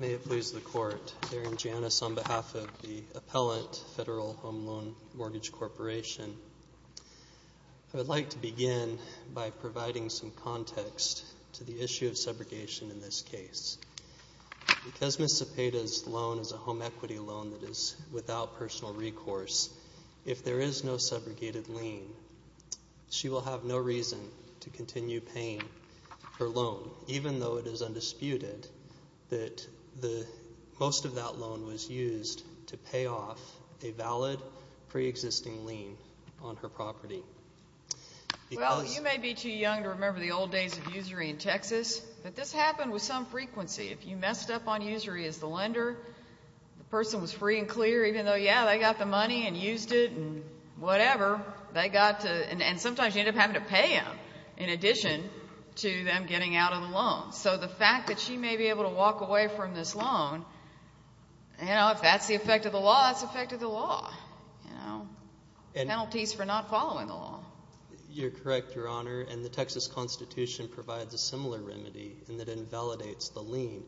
May it please the Court, Darren Janis on behalf of the Appellant Federal Home Loan Mortgage Corporation. I would like to begin by providing some context to the issue of subrogation in this case. Because Ms. Zepeda's loan is a home equity loan that is without personal recourse, if there is no subrogated lien, she will have no reason to continue paying her loan, even though it is undisputed that most of that loan was used to pay off a valid pre-existing lien on her property. Well, you may be too young to remember the old days of usury in Texas, but this happened with some frequency. If you messed up on usury as the lender, the person was free and clear, even though, yeah, they got the money and used it and whatever, and sometimes you ended up having to pay them in addition to them getting out of the loan. So the fact that she may be able to walk away from this loan, you know, if that's the effect of the law, it's the effect of the law, you know, penalties for not following the law. You're correct, Your Honor, and the Texas Constitution provides a similar remedy in that it invalidates the lien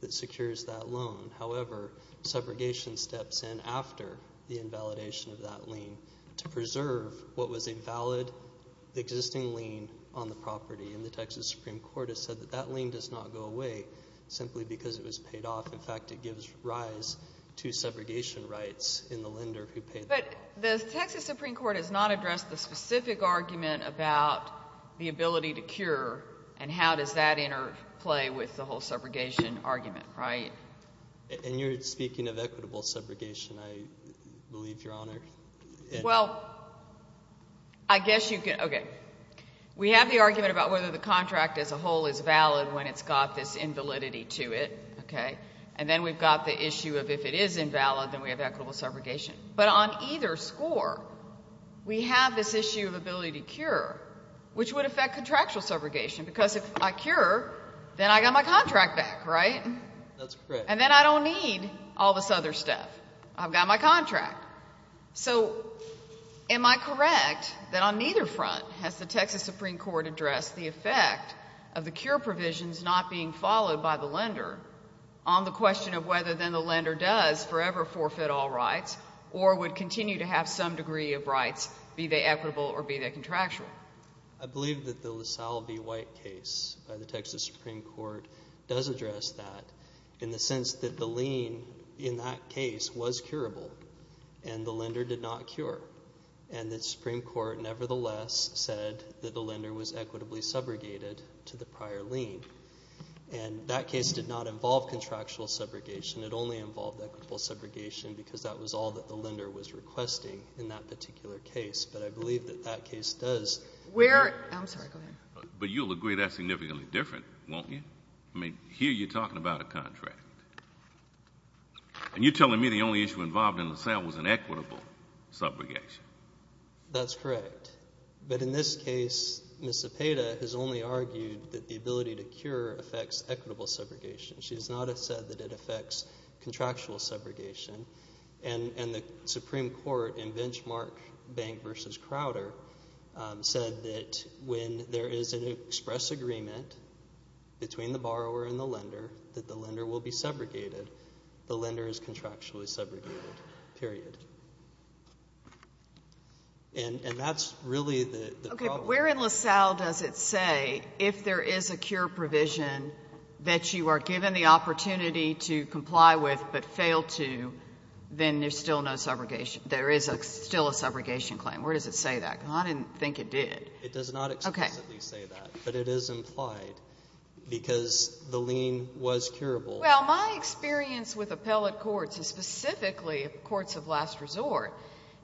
that secures that loan. However, subrogation steps in after the invalidation of that lien to preserve what was a valid existing lien on the property, and the Texas Supreme Court has said that that lien does not go away simply because it was paid off. In fact, it gives rise to subrogation rights in the lender who paid the loan. But the Texas Supreme Court has not addressed the specific argument about the ability to cure, and how does that interplay with the whole subrogation argument, right? And you're speaking of equitable subrogation, I believe, Your Honor. Well, I guess you can, okay. We have the argument about whether the contract as a whole is valid when it's got this invalidity to it, okay, and then we've got the issue of if it is invalid, then we have equitable subrogation. But on either score, we have this issue of ability to cure, which would affect contractual subrogation, because if I cure, then I got my contract back, right? That's correct. And then I don't need all this other stuff. I've got my contract. So am I correct that on neither front has the Texas Supreme Court addressed the effect of the cure provisions not being followed by the lender on the question of whether then the lender does forever forfeit all rights, or would continue to have some degree of rights, be they equitable or be they contractual? I believe that the LaSalle v. White case by the Texas Supreme Court does address that in the sense that the lien in that case was curable, and the lender did not cure, and the Supreme Court, nevertheless, said that the lender was equitably subrogated to the prior lien, and that case did not involve contractual subrogation. It only involved equitable subrogation, because that was all that the lender was requesting in that particular case, but I believe that that case does... Where... I'm sorry. Go ahead. But you'll agree that's significantly different, won't you? I mean, here you're talking about a contract, and you're telling me the only issue involved in the LaSalle was an equitable subrogation. That's correct, but in this case, Ms. Zepeda has only argued that the ability to cure affects equitable subrogation. She has not said that it affects contractual subrogation, and the Supreme Court in Benchmark Bank v. Crowder said that when there is an express agreement between the borrower and And that's really the problem. Okay, but where in LaSalle does it say, if there is a cure provision that you are given the opportunity to comply with but fail to, then there's still no subrogation? There is still a subrogation claim. Where does it say that? I didn't think it did. It does not explicitly say that, but it is implied, because the lien was curable. Well, my experience with appellate courts, and specifically courts of last resort,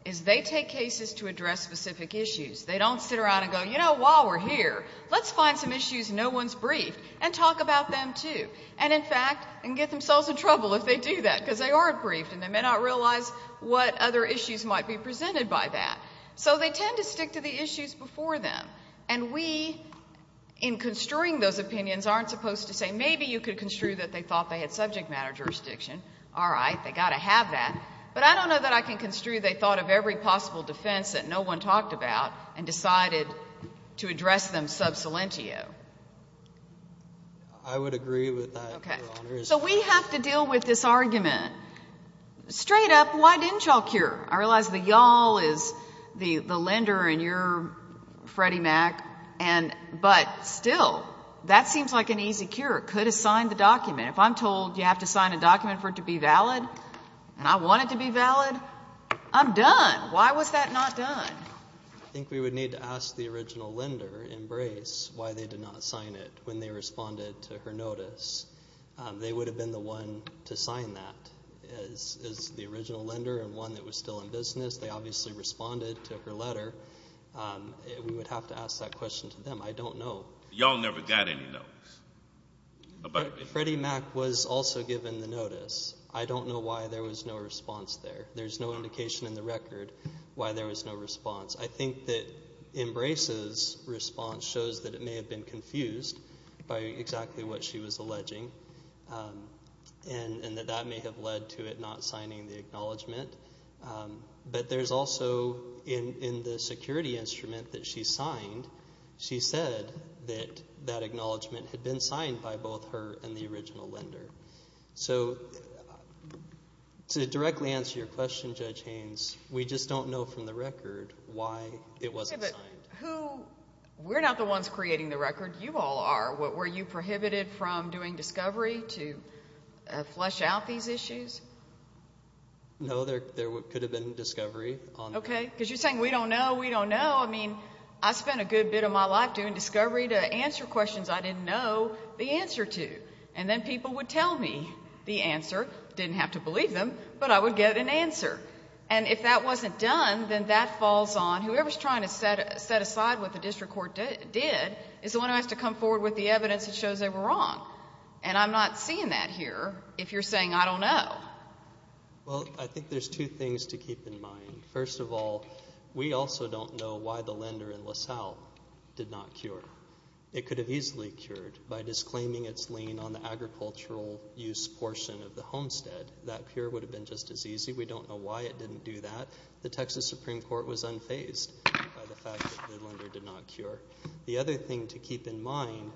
is they take cases to address specific issues. They don't sit around and go, you know, while we're here, let's find some issues no one's briefed and talk about them, too, and, in fact, get themselves in trouble if they do that, because they aren't briefed, and they may not realize what other issues might be presented by that. So they tend to stick to the issues before them, and we, in construing those opinions, aren't supposed to say, maybe you could construe that they thought they had subject matter jurisdiction. All right. They've got to have that. But I don't know that I can construe they thought of every possible defense that no one talked about and decided to address them sub salientio. I would agree with that, Your Honor. Okay. So we have to deal with this argument. Straight up, why didn't you all cure? I realize that y'all is the lender and you're Freddie Mac, but still, that seems like an easy cure. Could have signed the document. If I'm told you have to sign a document for it to be valid, and I want it to be valid, I'm done. Why was that not done? I think we would need to ask the original lender in Brace why they did not sign it when they responded to her notice. They would have been the one to sign that, as the original lender and one that was still in business. They obviously responded to her letter. We would have to ask that question to them. I don't know. Y'all never got any notice about it. Freddie Mac was also given the notice. I don't know why there was no response there. There's no indication in the record why there was no response. I think that in Brace's response shows that it may have been confused by exactly what she was acknowledging, and that that may have led to it not signing the acknowledgment. There's also, in the security instrument that she signed, she said that that acknowledgment had been signed by both her and the original lender. To directly answer your question, Judge Haynes, we just don't know from the record why it wasn't signed. We're not the ones creating the record. You all are. Were you prohibited from doing discovery to flesh out these issues? No, there could have been discovery. Okay. Because you're saying, we don't know, we don't know. I mean, I spent a good bit of my life doing discovery to answer questions I didn't know the answer to. And then people would tell me the answer. Didn't have to believe them, but I would get an answer. And if that wasn't done, then that falls on whoever's trying to set aside what the district court did, is the one who has to come forward with the evidence that shows they were wrong. And I'm not seeing that here, if you're saying, I don't know. Well, I think there's two things to keep in mind. First of all, we also don't know why the lender in LaSalle did not cure. It could have easily cured by disclaiming its lien on the agricultural use portion of the homestead. That cure would have been just as easy. We don't know why it didn't do that. The Texas Supreme Court was unfazed by the fact that the lender did not cure. The other thing to keep in mind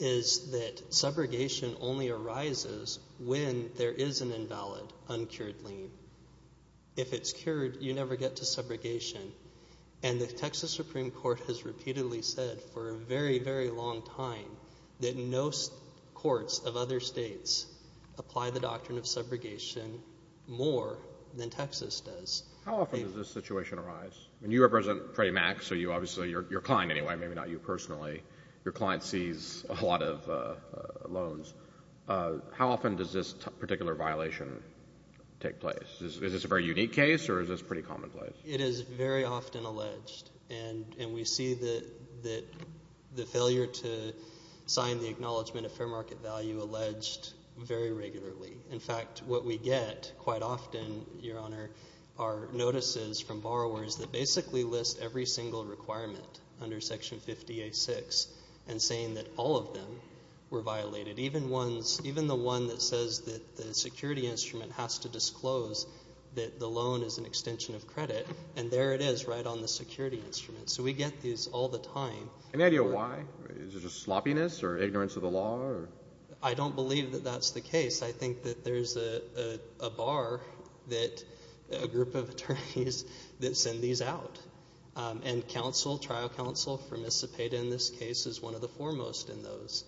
is that subrogation only arises when there is an invalid uncured lien. If it's cured, you never get to subrogation. And the Texas Supreme Court has repeatedly said for a very, very long time that no courts of other states apply the doctrine of subrogation more than Texas does. How often does this situation arise? I mean, you represent Freddie Mac, so obviously you're a client anyway, maybe not you personally. Your client sees a lot of loans. How often does this particular violation take place? Is this a very unique case, or is this pretty commonplace? It is very often alleged. And we see the failure to sign the acknowledgment of fair market value alleged very regularly. In fact, what we get quite often, Your Honor, are notices from borrowers that basically list every single requirement under Section 50A6 and saying that all of them were violated. Even the one that says that the security instrument has to disclose that the loan is an extension of credit. And there it is right on the security instrument. So we get these all the time. Any idea why? Is it just sloppiness or ignorance of the law? I don't believe that that's the case. I think that there's a bar that a group of attorneys that send these out. And counsel, trial counsel, for miscipate in this case is one of the foremost in those.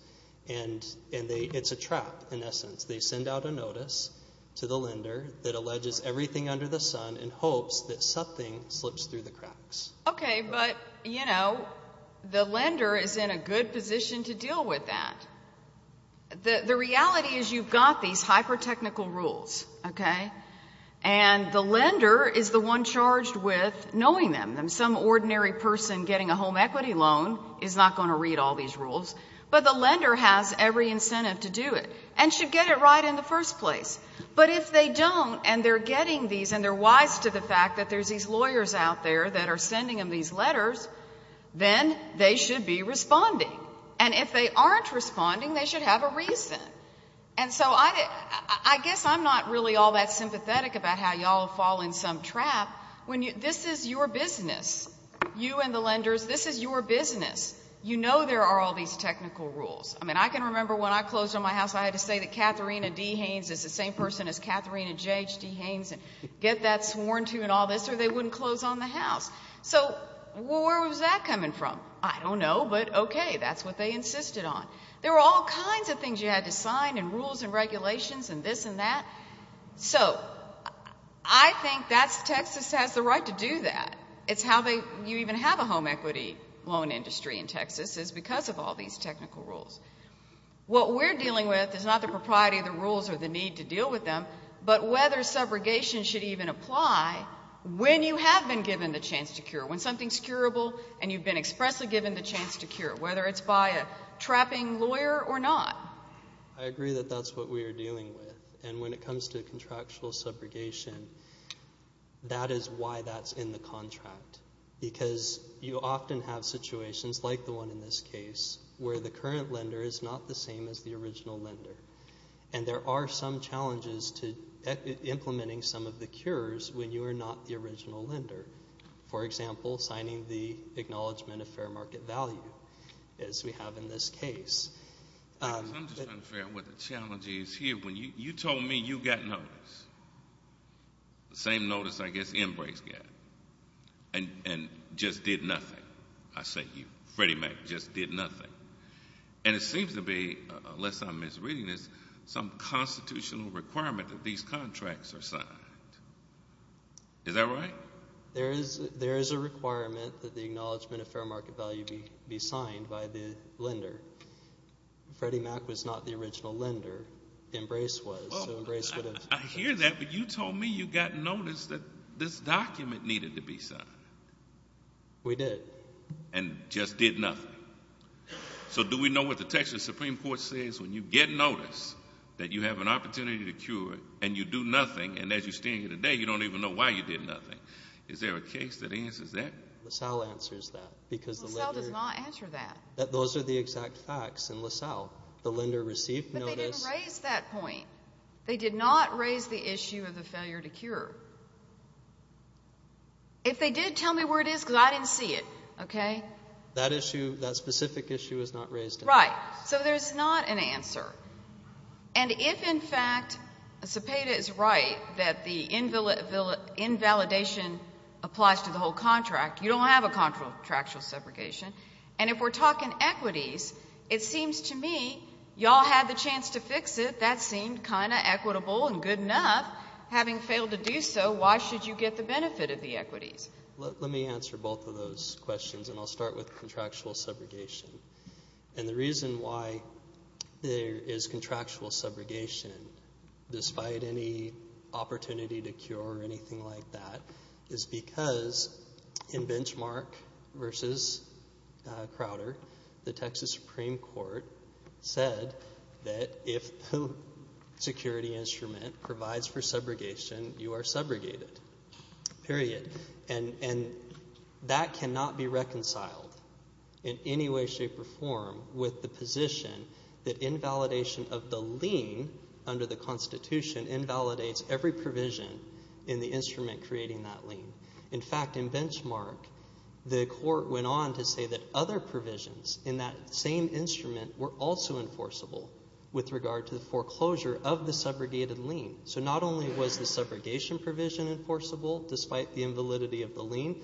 And it's a trap, in essence. They send out a notice to the lender that alleges everything under the sun in hopes that something slips through the cracks. Okay, but, you know, the lender is in a good position to deal with that. The reality is you've got these hyper-technical rules, okay? And the lender is the one charged with knowing them. Some ordinary person getting a home equity loan is not going to read all these rules. But the lender has every incentive to do it and should get it right in the first place. But if they don't and they're getting these and they're wise to the fact that there's these lawyers out there that are sending them these letters, then they should be responding. And if they aren't responding, they should have a reason. And so I guess I'm not really all that sympathetic about how y'all fall in some trap. This is your business, you and the lenders. This is your business. You know there are all these technical rules. I mean, I can remember when I closed on my house, I had to say that Katharina D. Haynes is the same person as Katharina J.H.D. Haynes and get that sworn to and all this or they wouldn't close on the house. So where was that coming from? I don't know, but okay, that's what they insisted on. There were all kinds of things you had to sign and rules and regulations and this and that. So I think Texas has the right to do that. It's how you even have a home equity loan industry in Texas is because of all these technical rules. What we're dealing with is not the propriety of the rules or the need to deal with them, but whether subrogation should even apply when you have been given the chance to cure, when something is curable and you've been expressly given the chance to cure, whether it's by a trapping lawyer or not. I agree that that's what we are dealing with. And when it comes to contractual subrogation, that is why that's in the contract because you often have situations like the one in this case where the current lender is not the same as the original lender. And there are some challenges to implementing some of the cures when you are not the original lender. For example, signing the Acknowledgement of Fair Market Value, as we have in this case. I'm just not fair with the challenges here. You told me you got notice, the same notice I guess Enbrace got, and just did nothing. I say you, Freddie Mac, just did nothing. And it seems to be, unless I'm misreading this, some constitutional requirement that these contracts are signed. Is that right? There is a requirement that the Acknowledgement of Fair Market Value be signed by the lender. Freddie Mac was not the original lender. Enbrace was. I hear that, but you told me you got notice that this document needed to be signed. We did. And just did nothing. So do we know what the Texas Supreme Court says when you get notice that you have an opportunity to cure and you do nothing, and as you stand here today, you don't even know why you did nothing? Is there a case that answers that? LaSalle answers that. LaSalle does not answer that. Those are the exact facts in LaSalle. The lender received notice. But they didn't raise that point. They did not raise the issue of the failure to cure. If they did, tell me where it is, because I didn't see it, okay? That issue, that specific issue, was not raised. Right. So there's not an answer. And if, in fact, Zepeda is right that the invalidation applies to the whole contract, you don't have a contractual separation. And if we're talking equities, it seems to me you all had the chance to fix it. That seemed kind of equitable and good enough. Having failed to do so, why should you get the benefit of the equities? Let me answer both of those questions, and I'll start with contractual separation. And the reason why there is contractual subrogation, despite any opportunity to cure or anything like that, is because in Benchmark versus Crowder, the Texas Supreme Court said that if the security instrument provides for subrogation, you are subrogated, period. And that cannot be reconciled in any way, shape, or form with the position that invalidation of the lien under the Constitution invalidates every provision in the instrument creating that lien. In fact, in Benchmark, the court went on to say that other provisions in that same instrument were also enforceable with regard to the foreclosure of the subrogated lien. So not only was the subrogation provision enforceable, despite the invalidity of the lien,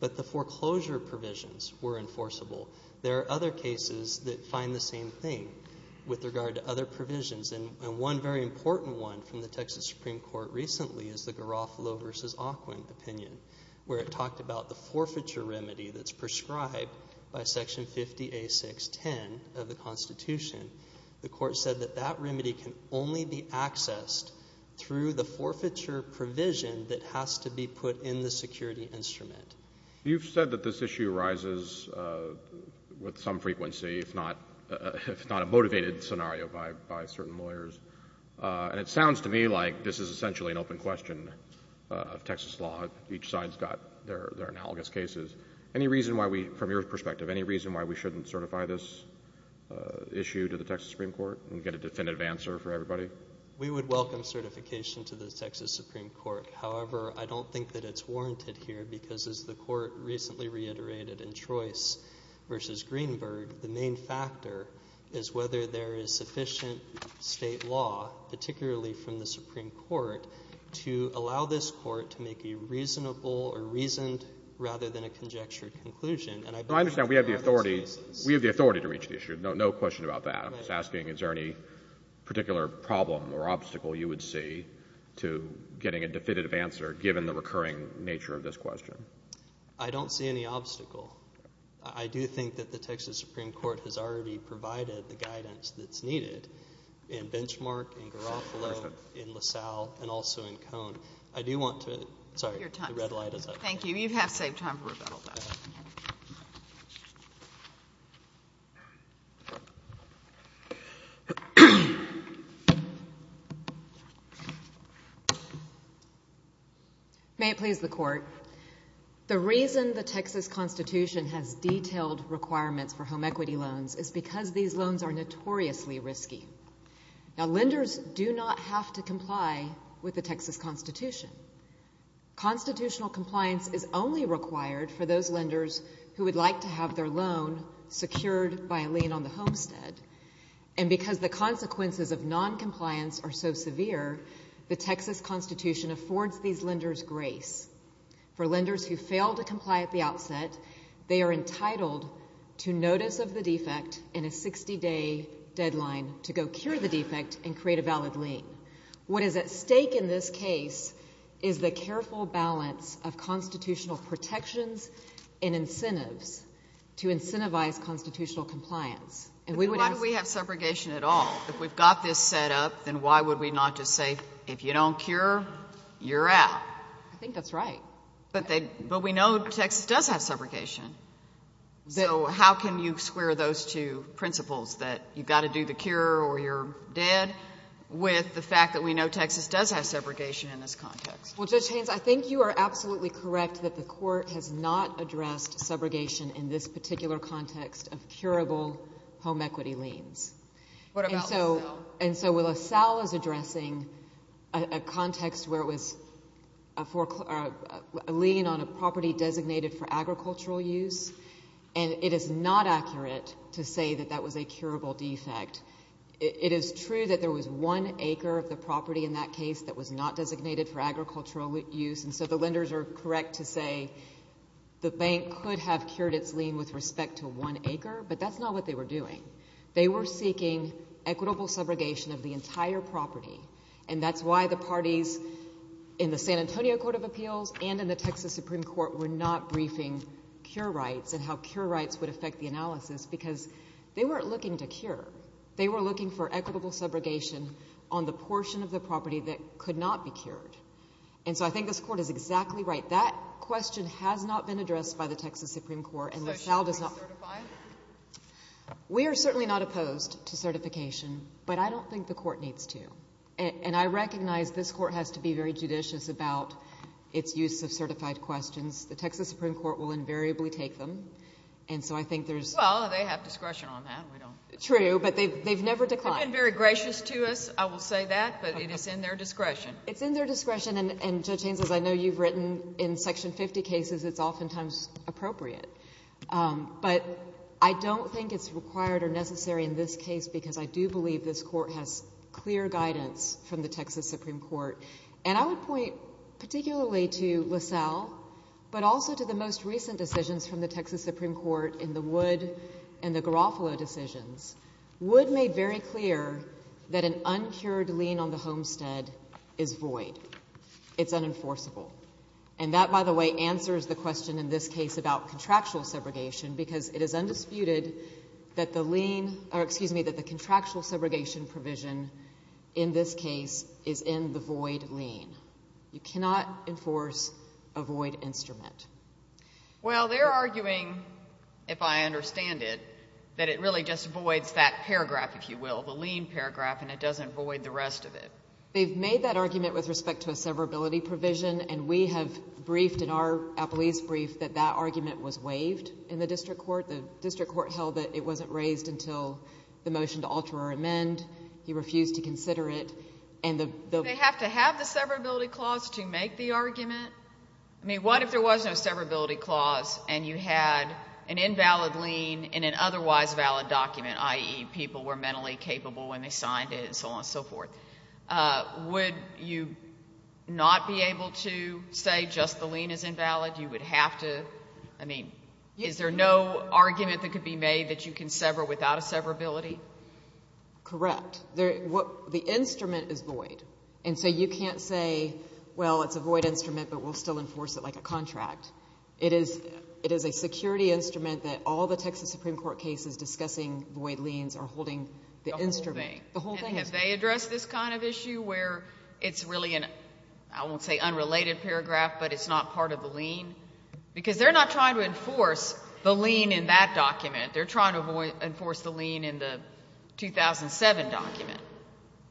but the foreclosure provisions were enforceable. There are other cases that find the same thing with regard to other provisions, and one very important one from the Texas Supreme Court recently is the Garofalo versus Aquin opinion, where it talked about the forfeiture remedy that's prescribed by Section 50A610 of the Constitution. The court said that that remedy can only be accessed through the forfeiture provision that has to be put in the security instrument. You've said that this issue arises with some frequency, if not a motivated scenario by certain lawyers, and it sounds to me like this is essentially an open question of Texas law. Each side's got their analogous cases. Any reason why we, from your perspective, any reason why we shouldn't certify this issue to the Texas Supreme Court and get a definitive answer for everybody? We would welcome certification to the Texas Supreme Court. However, I don't think that it's warranted here because, as the court recently reiterated in Trois versus Greenberg, the main factor is whether there is sufficient state law, particularly from the Supreme Court, to allow this court to make a reasonable or reasoned rather than a conjectured conclusion. I understand we have the authority to reach the issue. No question about that. I'm just asking, is there any particular problem or obstacle you would see to getting a definitive answer given the recurring nature of this question? I don't see any obstacle. I do think that the Texas Supreme Court has already provided the guidance that's needed in Benchmark, in Garofalo, in LaSalle, and also in Cone. I do want to — Your time. Sorry, the red light is up. Thank you. You have saved time for rebuttal, though. May it please the Court. The reason the Texas Constitution has detailed requirements for home equity loans is because these loans are notoriously risky. Now, lenders do not have to comply with the Texas Constitution. Constitutional compliance is only required for those lenders who would like to have their loan secured by a lien on the homestead, and because the consequences of noncompliance are so severe, the Texas Constitution affords these lenders grace. For lenders who fail to comply at the outset, they are entitled to notice of the defect in a 60-day deadline to go cure the defect and create a valid lien. What is at stake in this case is the careful balance of constitutional protections and incentives to incentivize constitutional compliance. And we would ask — But why do we have subrogation at all? If we've got this set up, then why would we not just say, if you don't cure, you're out? I think that's right. But they — but we know Texas does have subrogation. So how can you square those two principles, that you've got to do the cure or you're dead, with the fact that we know Texas does have subrogation in this context? Well, Judge Haynes, I think you are absolutely correct that the court has not addressed subrogation in this particular context of curable home equity liens. What about LaSalle? And so LaSalle is addressing a context where it was a lien on a property designated for agricultural use, and it is not accurate to say that that was a curable defect. It is true that there was one acre of the property in that case that was not designated for agricultural use, and so the lenders are correct to say the bank could have cured its lien with respect to one acre, but that's not what they were doing. They were seeking equitable subrogation of the entire property. And that's why the parties in the San Antonio Court of Appeals and in the Texas Supreme Court were not briefing cure rights and how cure rights would affect the analysis, because they weren't looking to cure. They were looking for equitable subrogation on the portion of the property that could not be cured. And so I think this Court is exactly right. That question has not been addressed by the Texas Supreme Court, and LaSalle does not... Is LaSalle certified? We are certainly not opposed to certification, but I don't think the Court needs to. And I recognize this Court has to be very judicious about its use of certified questions. And so I think there's... Well, they have discretion on that. We don't... True, but they've never declined. They've been very gracious to us, I will say that, but it is in their discretion. It's in their discretion, and Judge Haynes, as I know you've written in Section 50 cases, it's oftentimes appropriate. But I don't think it's required or necessary in this case, because I do believe this Court has clear guidance from the Texas Supreme Court. And I would point particularly to LaSalle, but also to the most recent decisions from the Texas Supreme Court in the Wood and the Garofalo decisions. Wood made very clear that an uncured lien on the homestead is void. It's unenforceable. And that, by the way, answers the question in this case about contractual subrogation, because it is undisputed that the contractual subrogation provision in this case is in the void lien. You cannot enforce a void instrument. Well, they're arguing, if I understand it, that it really just voids that paragraph, if you will, the lien paragraph, and it doesn't void the rest of it. They've made that argument with respect to a severability provision, and we have briefed in our appellee's brief that that argument was waived in the district court. The district court held that it wasn't raised until the motion to alter or amend. He refused to consider it. And the... They have to have the severability clause to make the argument? I mean, what if there was no severability clause and you had an invalid lien in an otherwise valid document, i.e., people were mentally capable when they signed it, and so on and so forth, would you not be able to say just the lien is invalid? You would have to... I mean, is there no argument that could be made that you can sever without a severability? Correct. The instrument is void. And so you can't say, well, it's a void instrument, but we'll still enforce it like a contract. It is a security instrument that all the Texas Supreme Court cases discussing void liens are holding the instrument. The whole thing. The whole thing. And have they addressed this kind of issue where it's really an, I won't say unrelated paragraph, but it's not part of the lien? Because they're not trying to enforce the lien in that document. They're trying to enforce the lien in the 2007 document.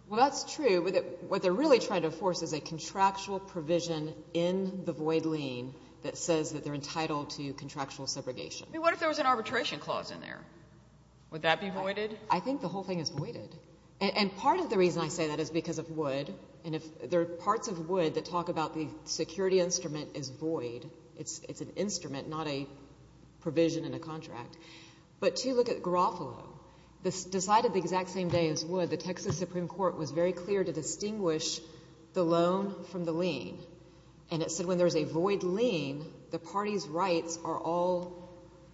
Well, that's true, but what they're really trying to enforce is a contractual provision in the void lien that says that they're entitled to contractual subrogation. I mean, what if there was an arbitration clause in there? Would that be voided? I think the whole thing is voided. And part of the reason I say that is because of Wood, and if there are parts of Wood that talk about the security instrument is void, it's an instrument, not a provision in a contract. But to look at Garofalo, this decided the exact same day as Wood, the Texas Supreme Court was very clear to distinguish the loan from the lien. And it said when there's a void lien, the party's rights are all,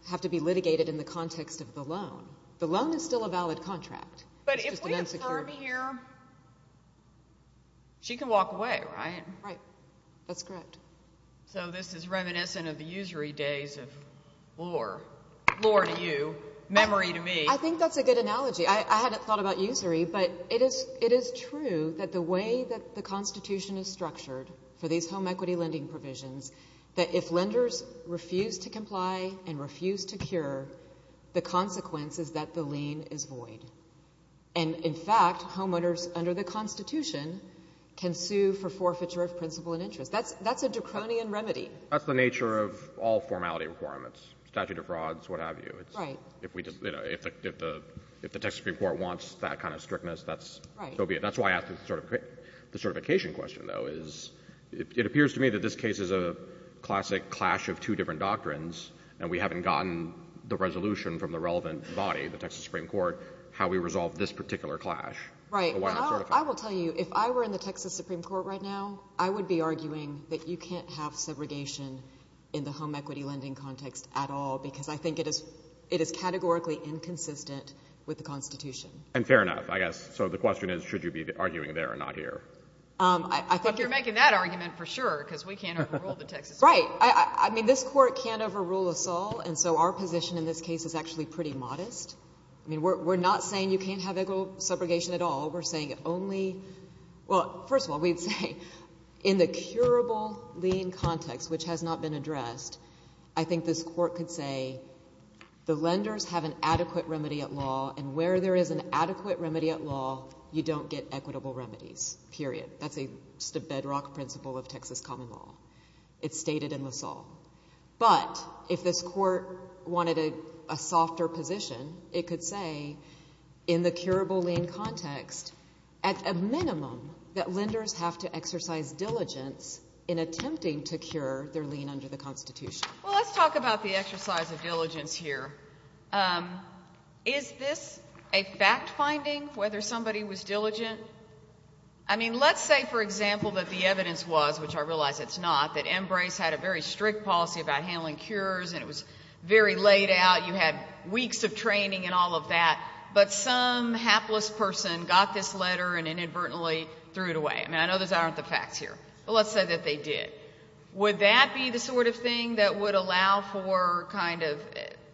have to be litigated in the context of the loan. The loan is still a valid contract. But if we affirm here, she can walk away, right? Right. That's correct. So this is reminiscent of the usury days of lore, lore to you, memory to me. I think that's a good analogy. I hadn't thought about usury, but it is true that the way that the Constitution is structured for these home equity lending provisions, that if lenders refuse to comply and refuse to cure, the consequence is that the lien is void. And in fact, homeowners under the Constitution can sue for forfeiture of principle and interest. That's a draconian remedy. That's the nature of all formality requirements, statute of frauds, what have you. Right. If the Texas Supreme Court wants that kind of strictness, that's so be it. That's why I asked the certification question, though, is, it appears to me that this case is a classic clash of two different doctrines, and we haven't gotten the resolution from the relevant body, the Texas Supreme Court, how we resolve this particular clash. Right. Well, I will tell you, if I were in the Texas Supreme Court right now, I would be arguing that you can't have segregation in the home equity lending context at all, because I think it is categorically inconsistent with the Constitution. And fair enough, I guess. So the question is, should you be arguing there or not here? I think you're making that argument for sure, because we can't overrule the Texas Supreme Court. Right. I mean, this court can't overrule us all, and so our position in this case is actually pretty modest. I mean, we're not saying you can't have segregation at all. We're saying only, well, first of all, we'd say, in the curable lien context, which has not been addressed, I think this court could say, the lenders have an adequate remedy at law, and where there is an adequate remedy at law, you don't get equitable remedies, period. That's just a bedrock principle of Texas common law. It's stated in LaSalle. But if this court wanted a softer position, it could say, in the curable lien context, at a minimum, that lenders have to exercise diligence in attempting to cure their lien under the Constitution. Well, let's talk about the exercise of diligence here. Is this a fact-finding, whether somebody was diligent? I mean, let's say, for example, that the evidence was, which I realize it's not, that M. Brace had a very strict policy about handling cures, and it was very laid out, you had weeks of training and all of that, but some hapless person got this letter and inadvertently threw it away. I mean, I know those aren't the facts here, but let's say that they did. Would that be the sort of thing that would allow for, kind of,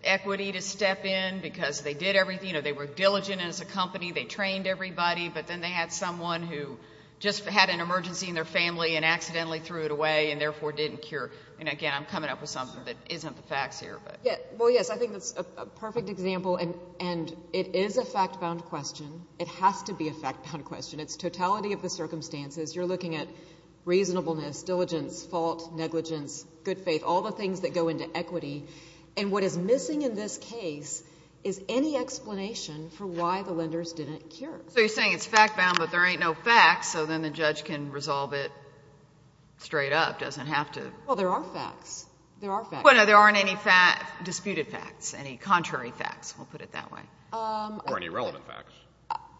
equity to step in? Because they did everything, you know, they were diligent as a company, they trained everybody, but then they had someone who just had an emergency in their family and accidentally threw it away and therefore didn't cure. And again, I'm coming up with something that isn't the facts here, but. Yeah. Well, yes, I think that's a perfect example, and it is a fact-bound question. It has to be a fact-bound question. It's totality of the circumstances. You're looking at reasonableness, diligence, fault, negligence, good faith, all the things that go into equity, and what is missing in this case is any explanation for why the lenders didn't cure. So you're saying it's fact-bound, but there ain't no facts, so then the judge can resolve it straight up, doesn't have to. Well, there are facts. There are facts. Well, no, there aren't any disputed facts, any contrary facts, we'll put it that way. Or any relevant facts.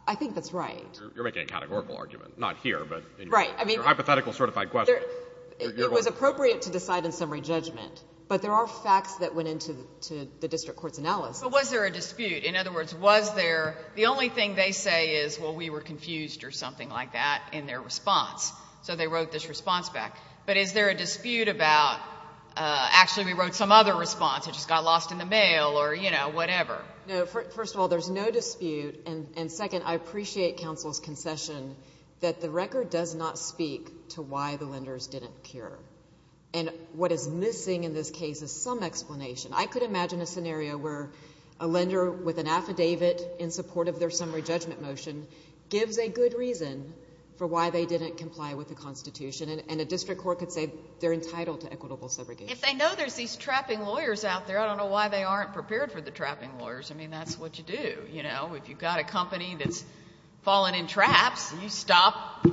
I think that's right. You're making a categorical argument, not here, but in your hypothetical certified question. It was appropriate to decide in summary judgment, but there are facts that went into the district court's analysis. But was there a dispute? In other words, was there, the only thing they say is, well, we were confused or something like that in their response, so they wrote this response back. But is there a dispute about, actually, we wrote some other response, it just got lost in the mail or, you know, whatever? No, first of all, there's no dispute, and second, I appreciate counsel's concession that the record does not speak to why the lenders didn't cure. And what is missing in this case is some explanation. I could imagine a scenario where a lender with an affidavit in support of their summary judgment motion gives a good reason for why they didn't comply with the Constitution, and a district court could say they're entitled to equitable segregation. If they know there's these trapping lawyers out there, I don't know why they aren't prepared for the trapping lawyers. I mean, that's what you do, you know? If you've got a company that's fallen in traps, you stop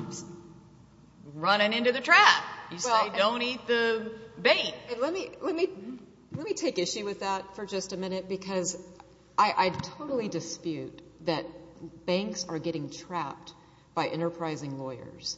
running into the trap. You say, don't eat the bait. Let me take issue with that for just a minute, because I totally dispute that banks are getting trapped by enterprising lawyers.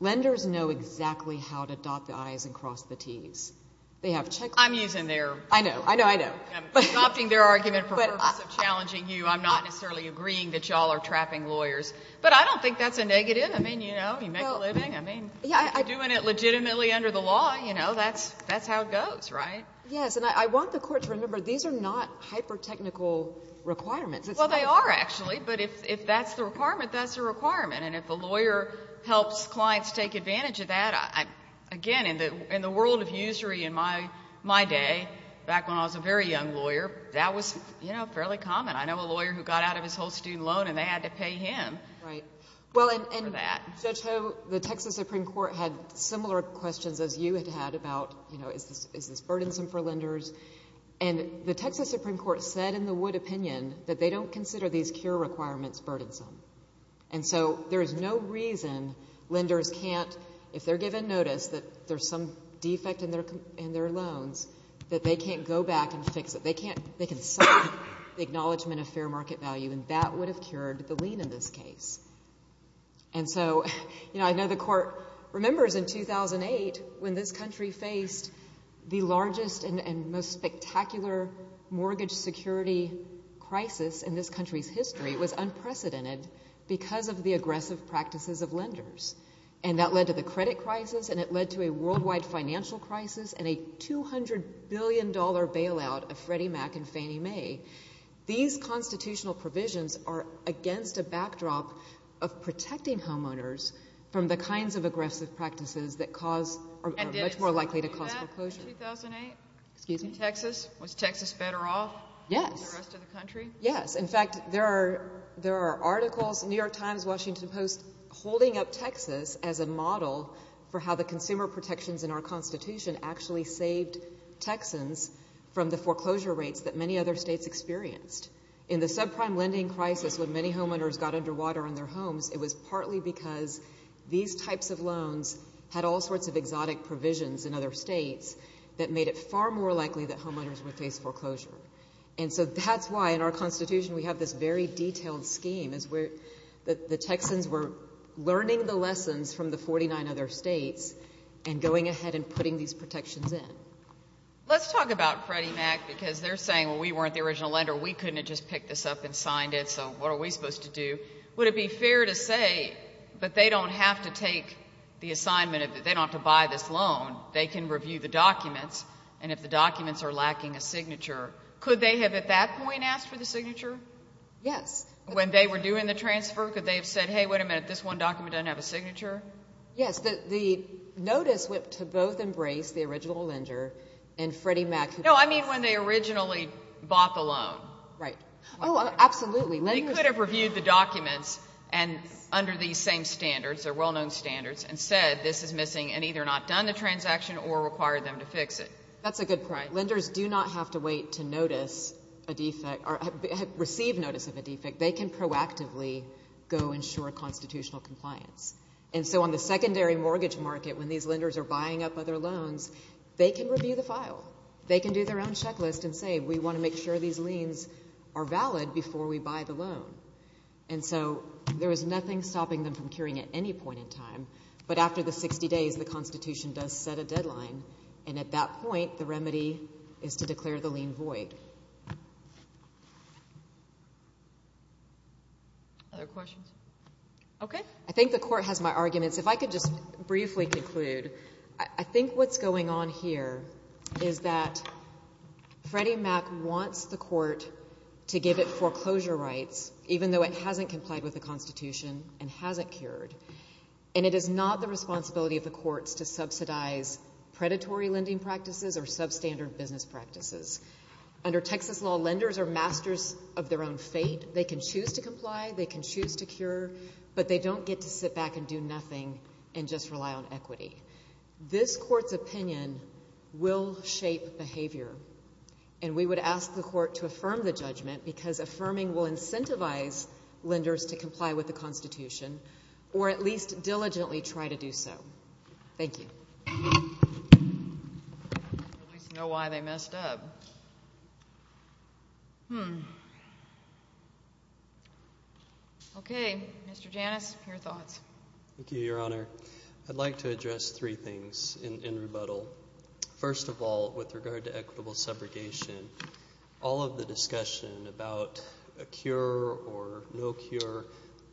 Lenders know exactly how to dot the I's and cross the T's. They have checkbooks. I'm using their... I know, I know, I know. I'm adopting their argument for purpose of challenging you. I'm not necessarily agreeing that y'all are trapping lawyers, but I don't think that's a negative. I mean, you know, you make a living. I mean, if you're doing it legitimately under the law, you know, that's how it goes, right? Yes, and I want the court to remember, these are not hyper-technical requirements. Well, they are, actually, but if that's the requirement, that's the requirement. And if a lawyer helps clients take advantage of that, again, in the world of usury in my day, back when I was a very young lawyer, that was, you know, fairly common. I know a lawyer who got out of his whole student loan, and they had to pay him for that. Judge Ho, the Texas Supreme Court had similar questions as you had about, you know, is this burdensome for lenders? And the Texas Supreme Court said in the Wood opinion that they don't consider these cure requirements burdensome. And so there is no reason lenders can't, if they're given notice that there's some defect in their loans, that they can't go back and fix it. They can't... They can sign the Acknowledgement of Fair Market Value, and that would have cured the lien in this case. And so, you know, I know the Court remembers in 2008, when this country faced the largest and most spectacular mortgage security crisis in this country's history, it was unprecedented because of the aggressive practices of lenders. And that led to the credit crisis, and it led to a worldwide financial crisis, and a $200 billion bailout of Freddie Mac and Fannie Mae. These constitutional provisions are against a backdrop of protecting homeowners from the kinds of aggressive practices that cause, or are much more likely to cause foreclosure. And did it seem like that in 2008? Excuse me? In Texas? Was Texas better off? Yes. Than the rest of the country? Yes. In fact, there are articles, New York Times, Washington Post, holding up Texas as a model for how the consumer protections in our Constitution actually saved Texans from the foreclosure rates that many other states experienced. In the subprime lending crisis, when many homeowners got underwater on their homes, it was partly because these types of loans had all sorts of exotic provisions in other states that made it far more likely that homeowners would face foreclosure. And so that's why in our Constitution we have this very detailed scheme, is where the Texans were learning the lessons from the 49 other states and going ahead and putting these protections in. Let's talk about Freddie Mac, because they're saying, well, we weren't the original lender, we couldn't have just picked this up and signed it, so what are we supposed to do? Would it be fair to say that they don't have to take the assignment, they don't have to buy this loan, they can review the documents, and if the documents are lacking a signature, could they have at that point asked for the signature? Yes. When they were doing the transfer, could they have said, hey, wait a minute, this one document doesn't have a signature? Yes. The notice went to both embrace the original lender and Freddie Mac. No, I mean when they originally bought the loan. Right. Oh, absolutely. They could have reviewed the documents under these same standards, they're well-known standards, and said this is missing and either not done the transaction or required them to fix it. That's a good point. Lenders do not have to wait to notice a defect or receive notice of a defect. They can proactively go ensure constitutional compliance. On the secondary mortgage market, when these lenders are buying up other loans, they can review the file. They can do their own checklist and say, we want to make sure these liens are valid before we buy the loan. There is nothing stopping them from curing at any point in time, but after the 60 days, the Constitution does set a deadline, and at that point, the remedy is to declare the lien void. Other questions? Okay. I think the Court has my arguments. If I could just briefly conclude, I think what's going on here is that Freddie Mac wants the Court to give it foreclosure rights, even though it hasn't complied with the Constitution and hasn't cured, and it is not the responsibility of the courts to subsidize predatory lending practices or substandard business practices. Under Texas law, lenders are masters of their own fate. They can choose to comply, they can choose to cure, but they don't get to sit back and do nothing and just rely on equity. This Court's opinion will shape behavior, and we would ask the Court to affirm the judgment because affirming will incentivize lenders to comply with the Constitution or at least diligently try to do so. Thank you. I at least know why they messed up. Hmm. Okay. Mr. Janus, your thoughts. Thank you, Your Honor. I'd like to address three things in rebuttal. First of all, with regard to equitable subrogation, all of the discussion about a cure or no cure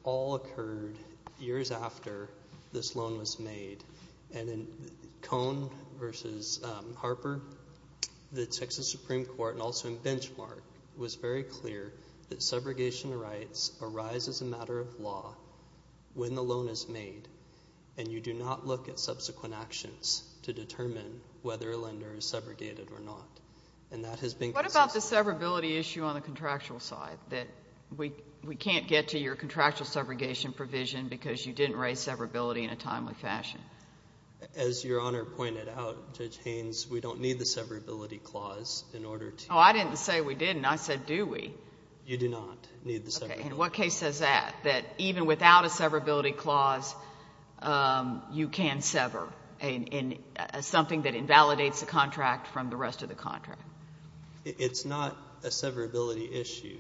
all occurred years after this loan was made, and in Cohn v. Harper, the Texas Supreme Court, and also in Benchmark, it was very clear that subrogation rights arise as a matter of law when the loan is made, and you do not look at subsequent actions to determine whether a lender is subrogated or not, and that has been consistent. What about the severability issue on the contractual side, that we can't get to your contractual subrogation provision because you didn't raise severability in a timely fashion? As Your Honor pointed out, Judge Haynes, we don't need the severability clause in order to... Oh, I didn't say we didn't. I said, do we? You do not need the severability clause. Okay. And what case says that, that even without a severability clause, you can sever something that invalidates the contract from the rest of the contract? It's not a severability issue.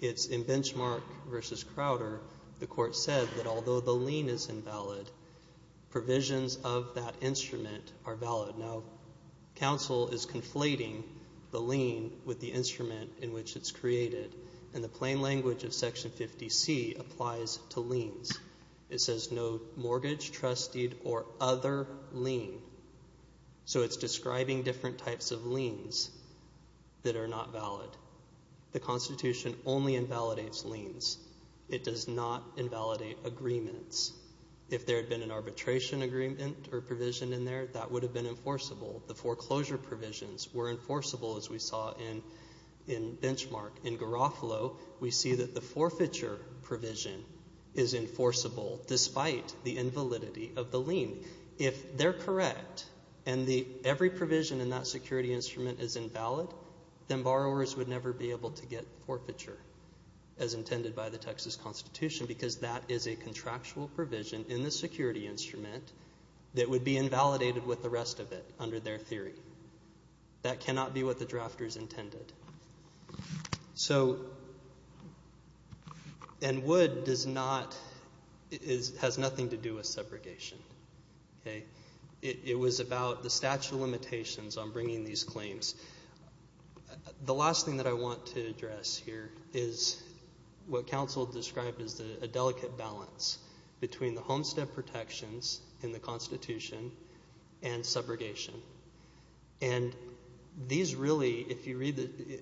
It's in Benchmark v. Crowder, the court said that although the lien is invalid, provisions of that instrument are valid. Now, counsel is conflating the lien with the instrument in which it's created, and the plain language of Section 50C applies to liens. It says no mortgage, trusted, or other lien. So, it's describing different types of liens that are not valid. The Constitution only invalidates liens. It does not invalidate agreements. If there had been an arbitration agreement or provision in there, that would have been enforceable. The foreclosure provisions were enforceable, as we saw in Benchmark. In Garofalo, we see that the forfeiture provision is enforceable, despite the invalidity of the lien. If they're correct, and every provision in that security instrument is invalid, then borrowers would never be able to get forfeiture, as intended by the Texas Constitution, because that is a contractual provision in the security instrument that would be invalidated with the rest of it, under their theory. That cannot be what the drafters intended. So, and Wood has nothing to do with subrogation. It was about the statute of limitations on bringing these claims. The last thing that I want to address here is what counsel described as a delicate balance between the homestead protections in the Constitution and subrogation. And these really,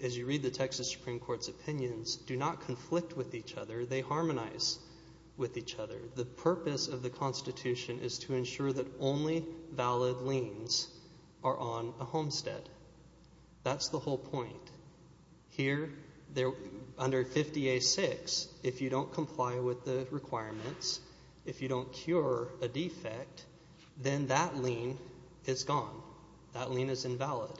as you read the Texas Supreme Court's opinions, do not conflict with each other. They harmonize with each other. The purpose of the Constitution is to ensure that only valid liens are on a homestead. That's the whole point. Here under 50A6, if you don't comply with the requirements, if you don't cure a defect, then that lien is gone. That lien is invalid.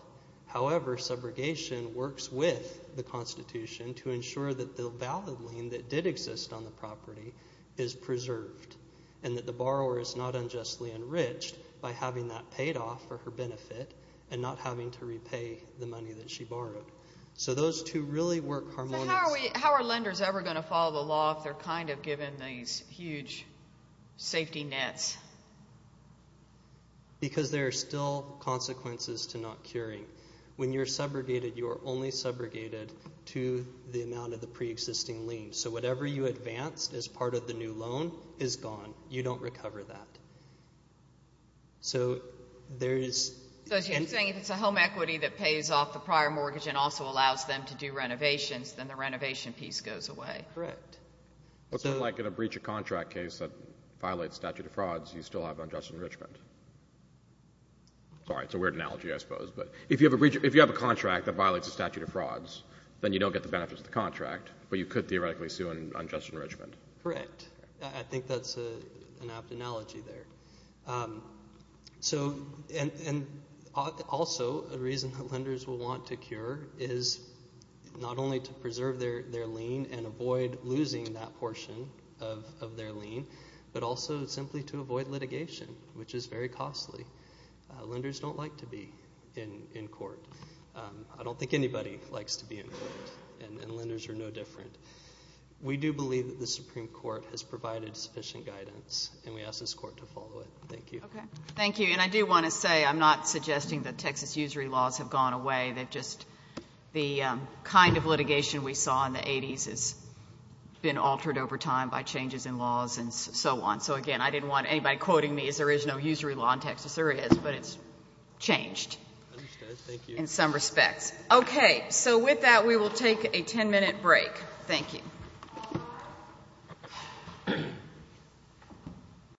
However, subrogation works with the Constitution to ensure that the valid lien that did exist on the property is preserved and that the borrower is not unjustly enriched by having that paid off for her benefit and not having to repay the money that she borrowed. So those two really work harmoniously. So how are lenders ever going to follow the law if they're kind of given these huge safety nets? Because there are still consequences to not curing. When you're subrogated, you are only subrogated to the amount of the pre-existing lien. So whatever you advanced as part of the new loan is gone. You don't recover that. So there is... So as you're saying, if it's a home equity that pays off the prior mortgage and also allows them to do renovations, then the renovation piece goes away. Correct. What's it like in a breach of contract case that violates statute of frauds, you still have unjust enrichment? Sorry, it's a weird analogy, I suppose, but if you have a contract that violates the statute of frauds, then you don't get the benefits of the contract, but you could theoretically sue an unjust enrichment. Correct. I think that's an apt analogy there. So and also a reason that lenders will want to cure is not only to preserve their lien and avoid losing that portion of their lien, but also simply to avoid litigation, which is very costly. Lenders don't like to be in court. I don't think anybody likes to be in court, and lenders are no different. We do believe that the Supreme Court has provided sufficient guidance, and we ask this Court to follow it. Thank you. Okay. Thank you. And I do want to say, I'm not suggesting that Texas usury laws have gone away. They've just, the kind of litigation we saw in the 80s has been altered over time by changes in laws and so on. So again, I didn't want anybody quoting me as there is no usury law in Texas. There is, but it's changed in some respects. Okay. So with that, we will take a 10-minute break. Thank you.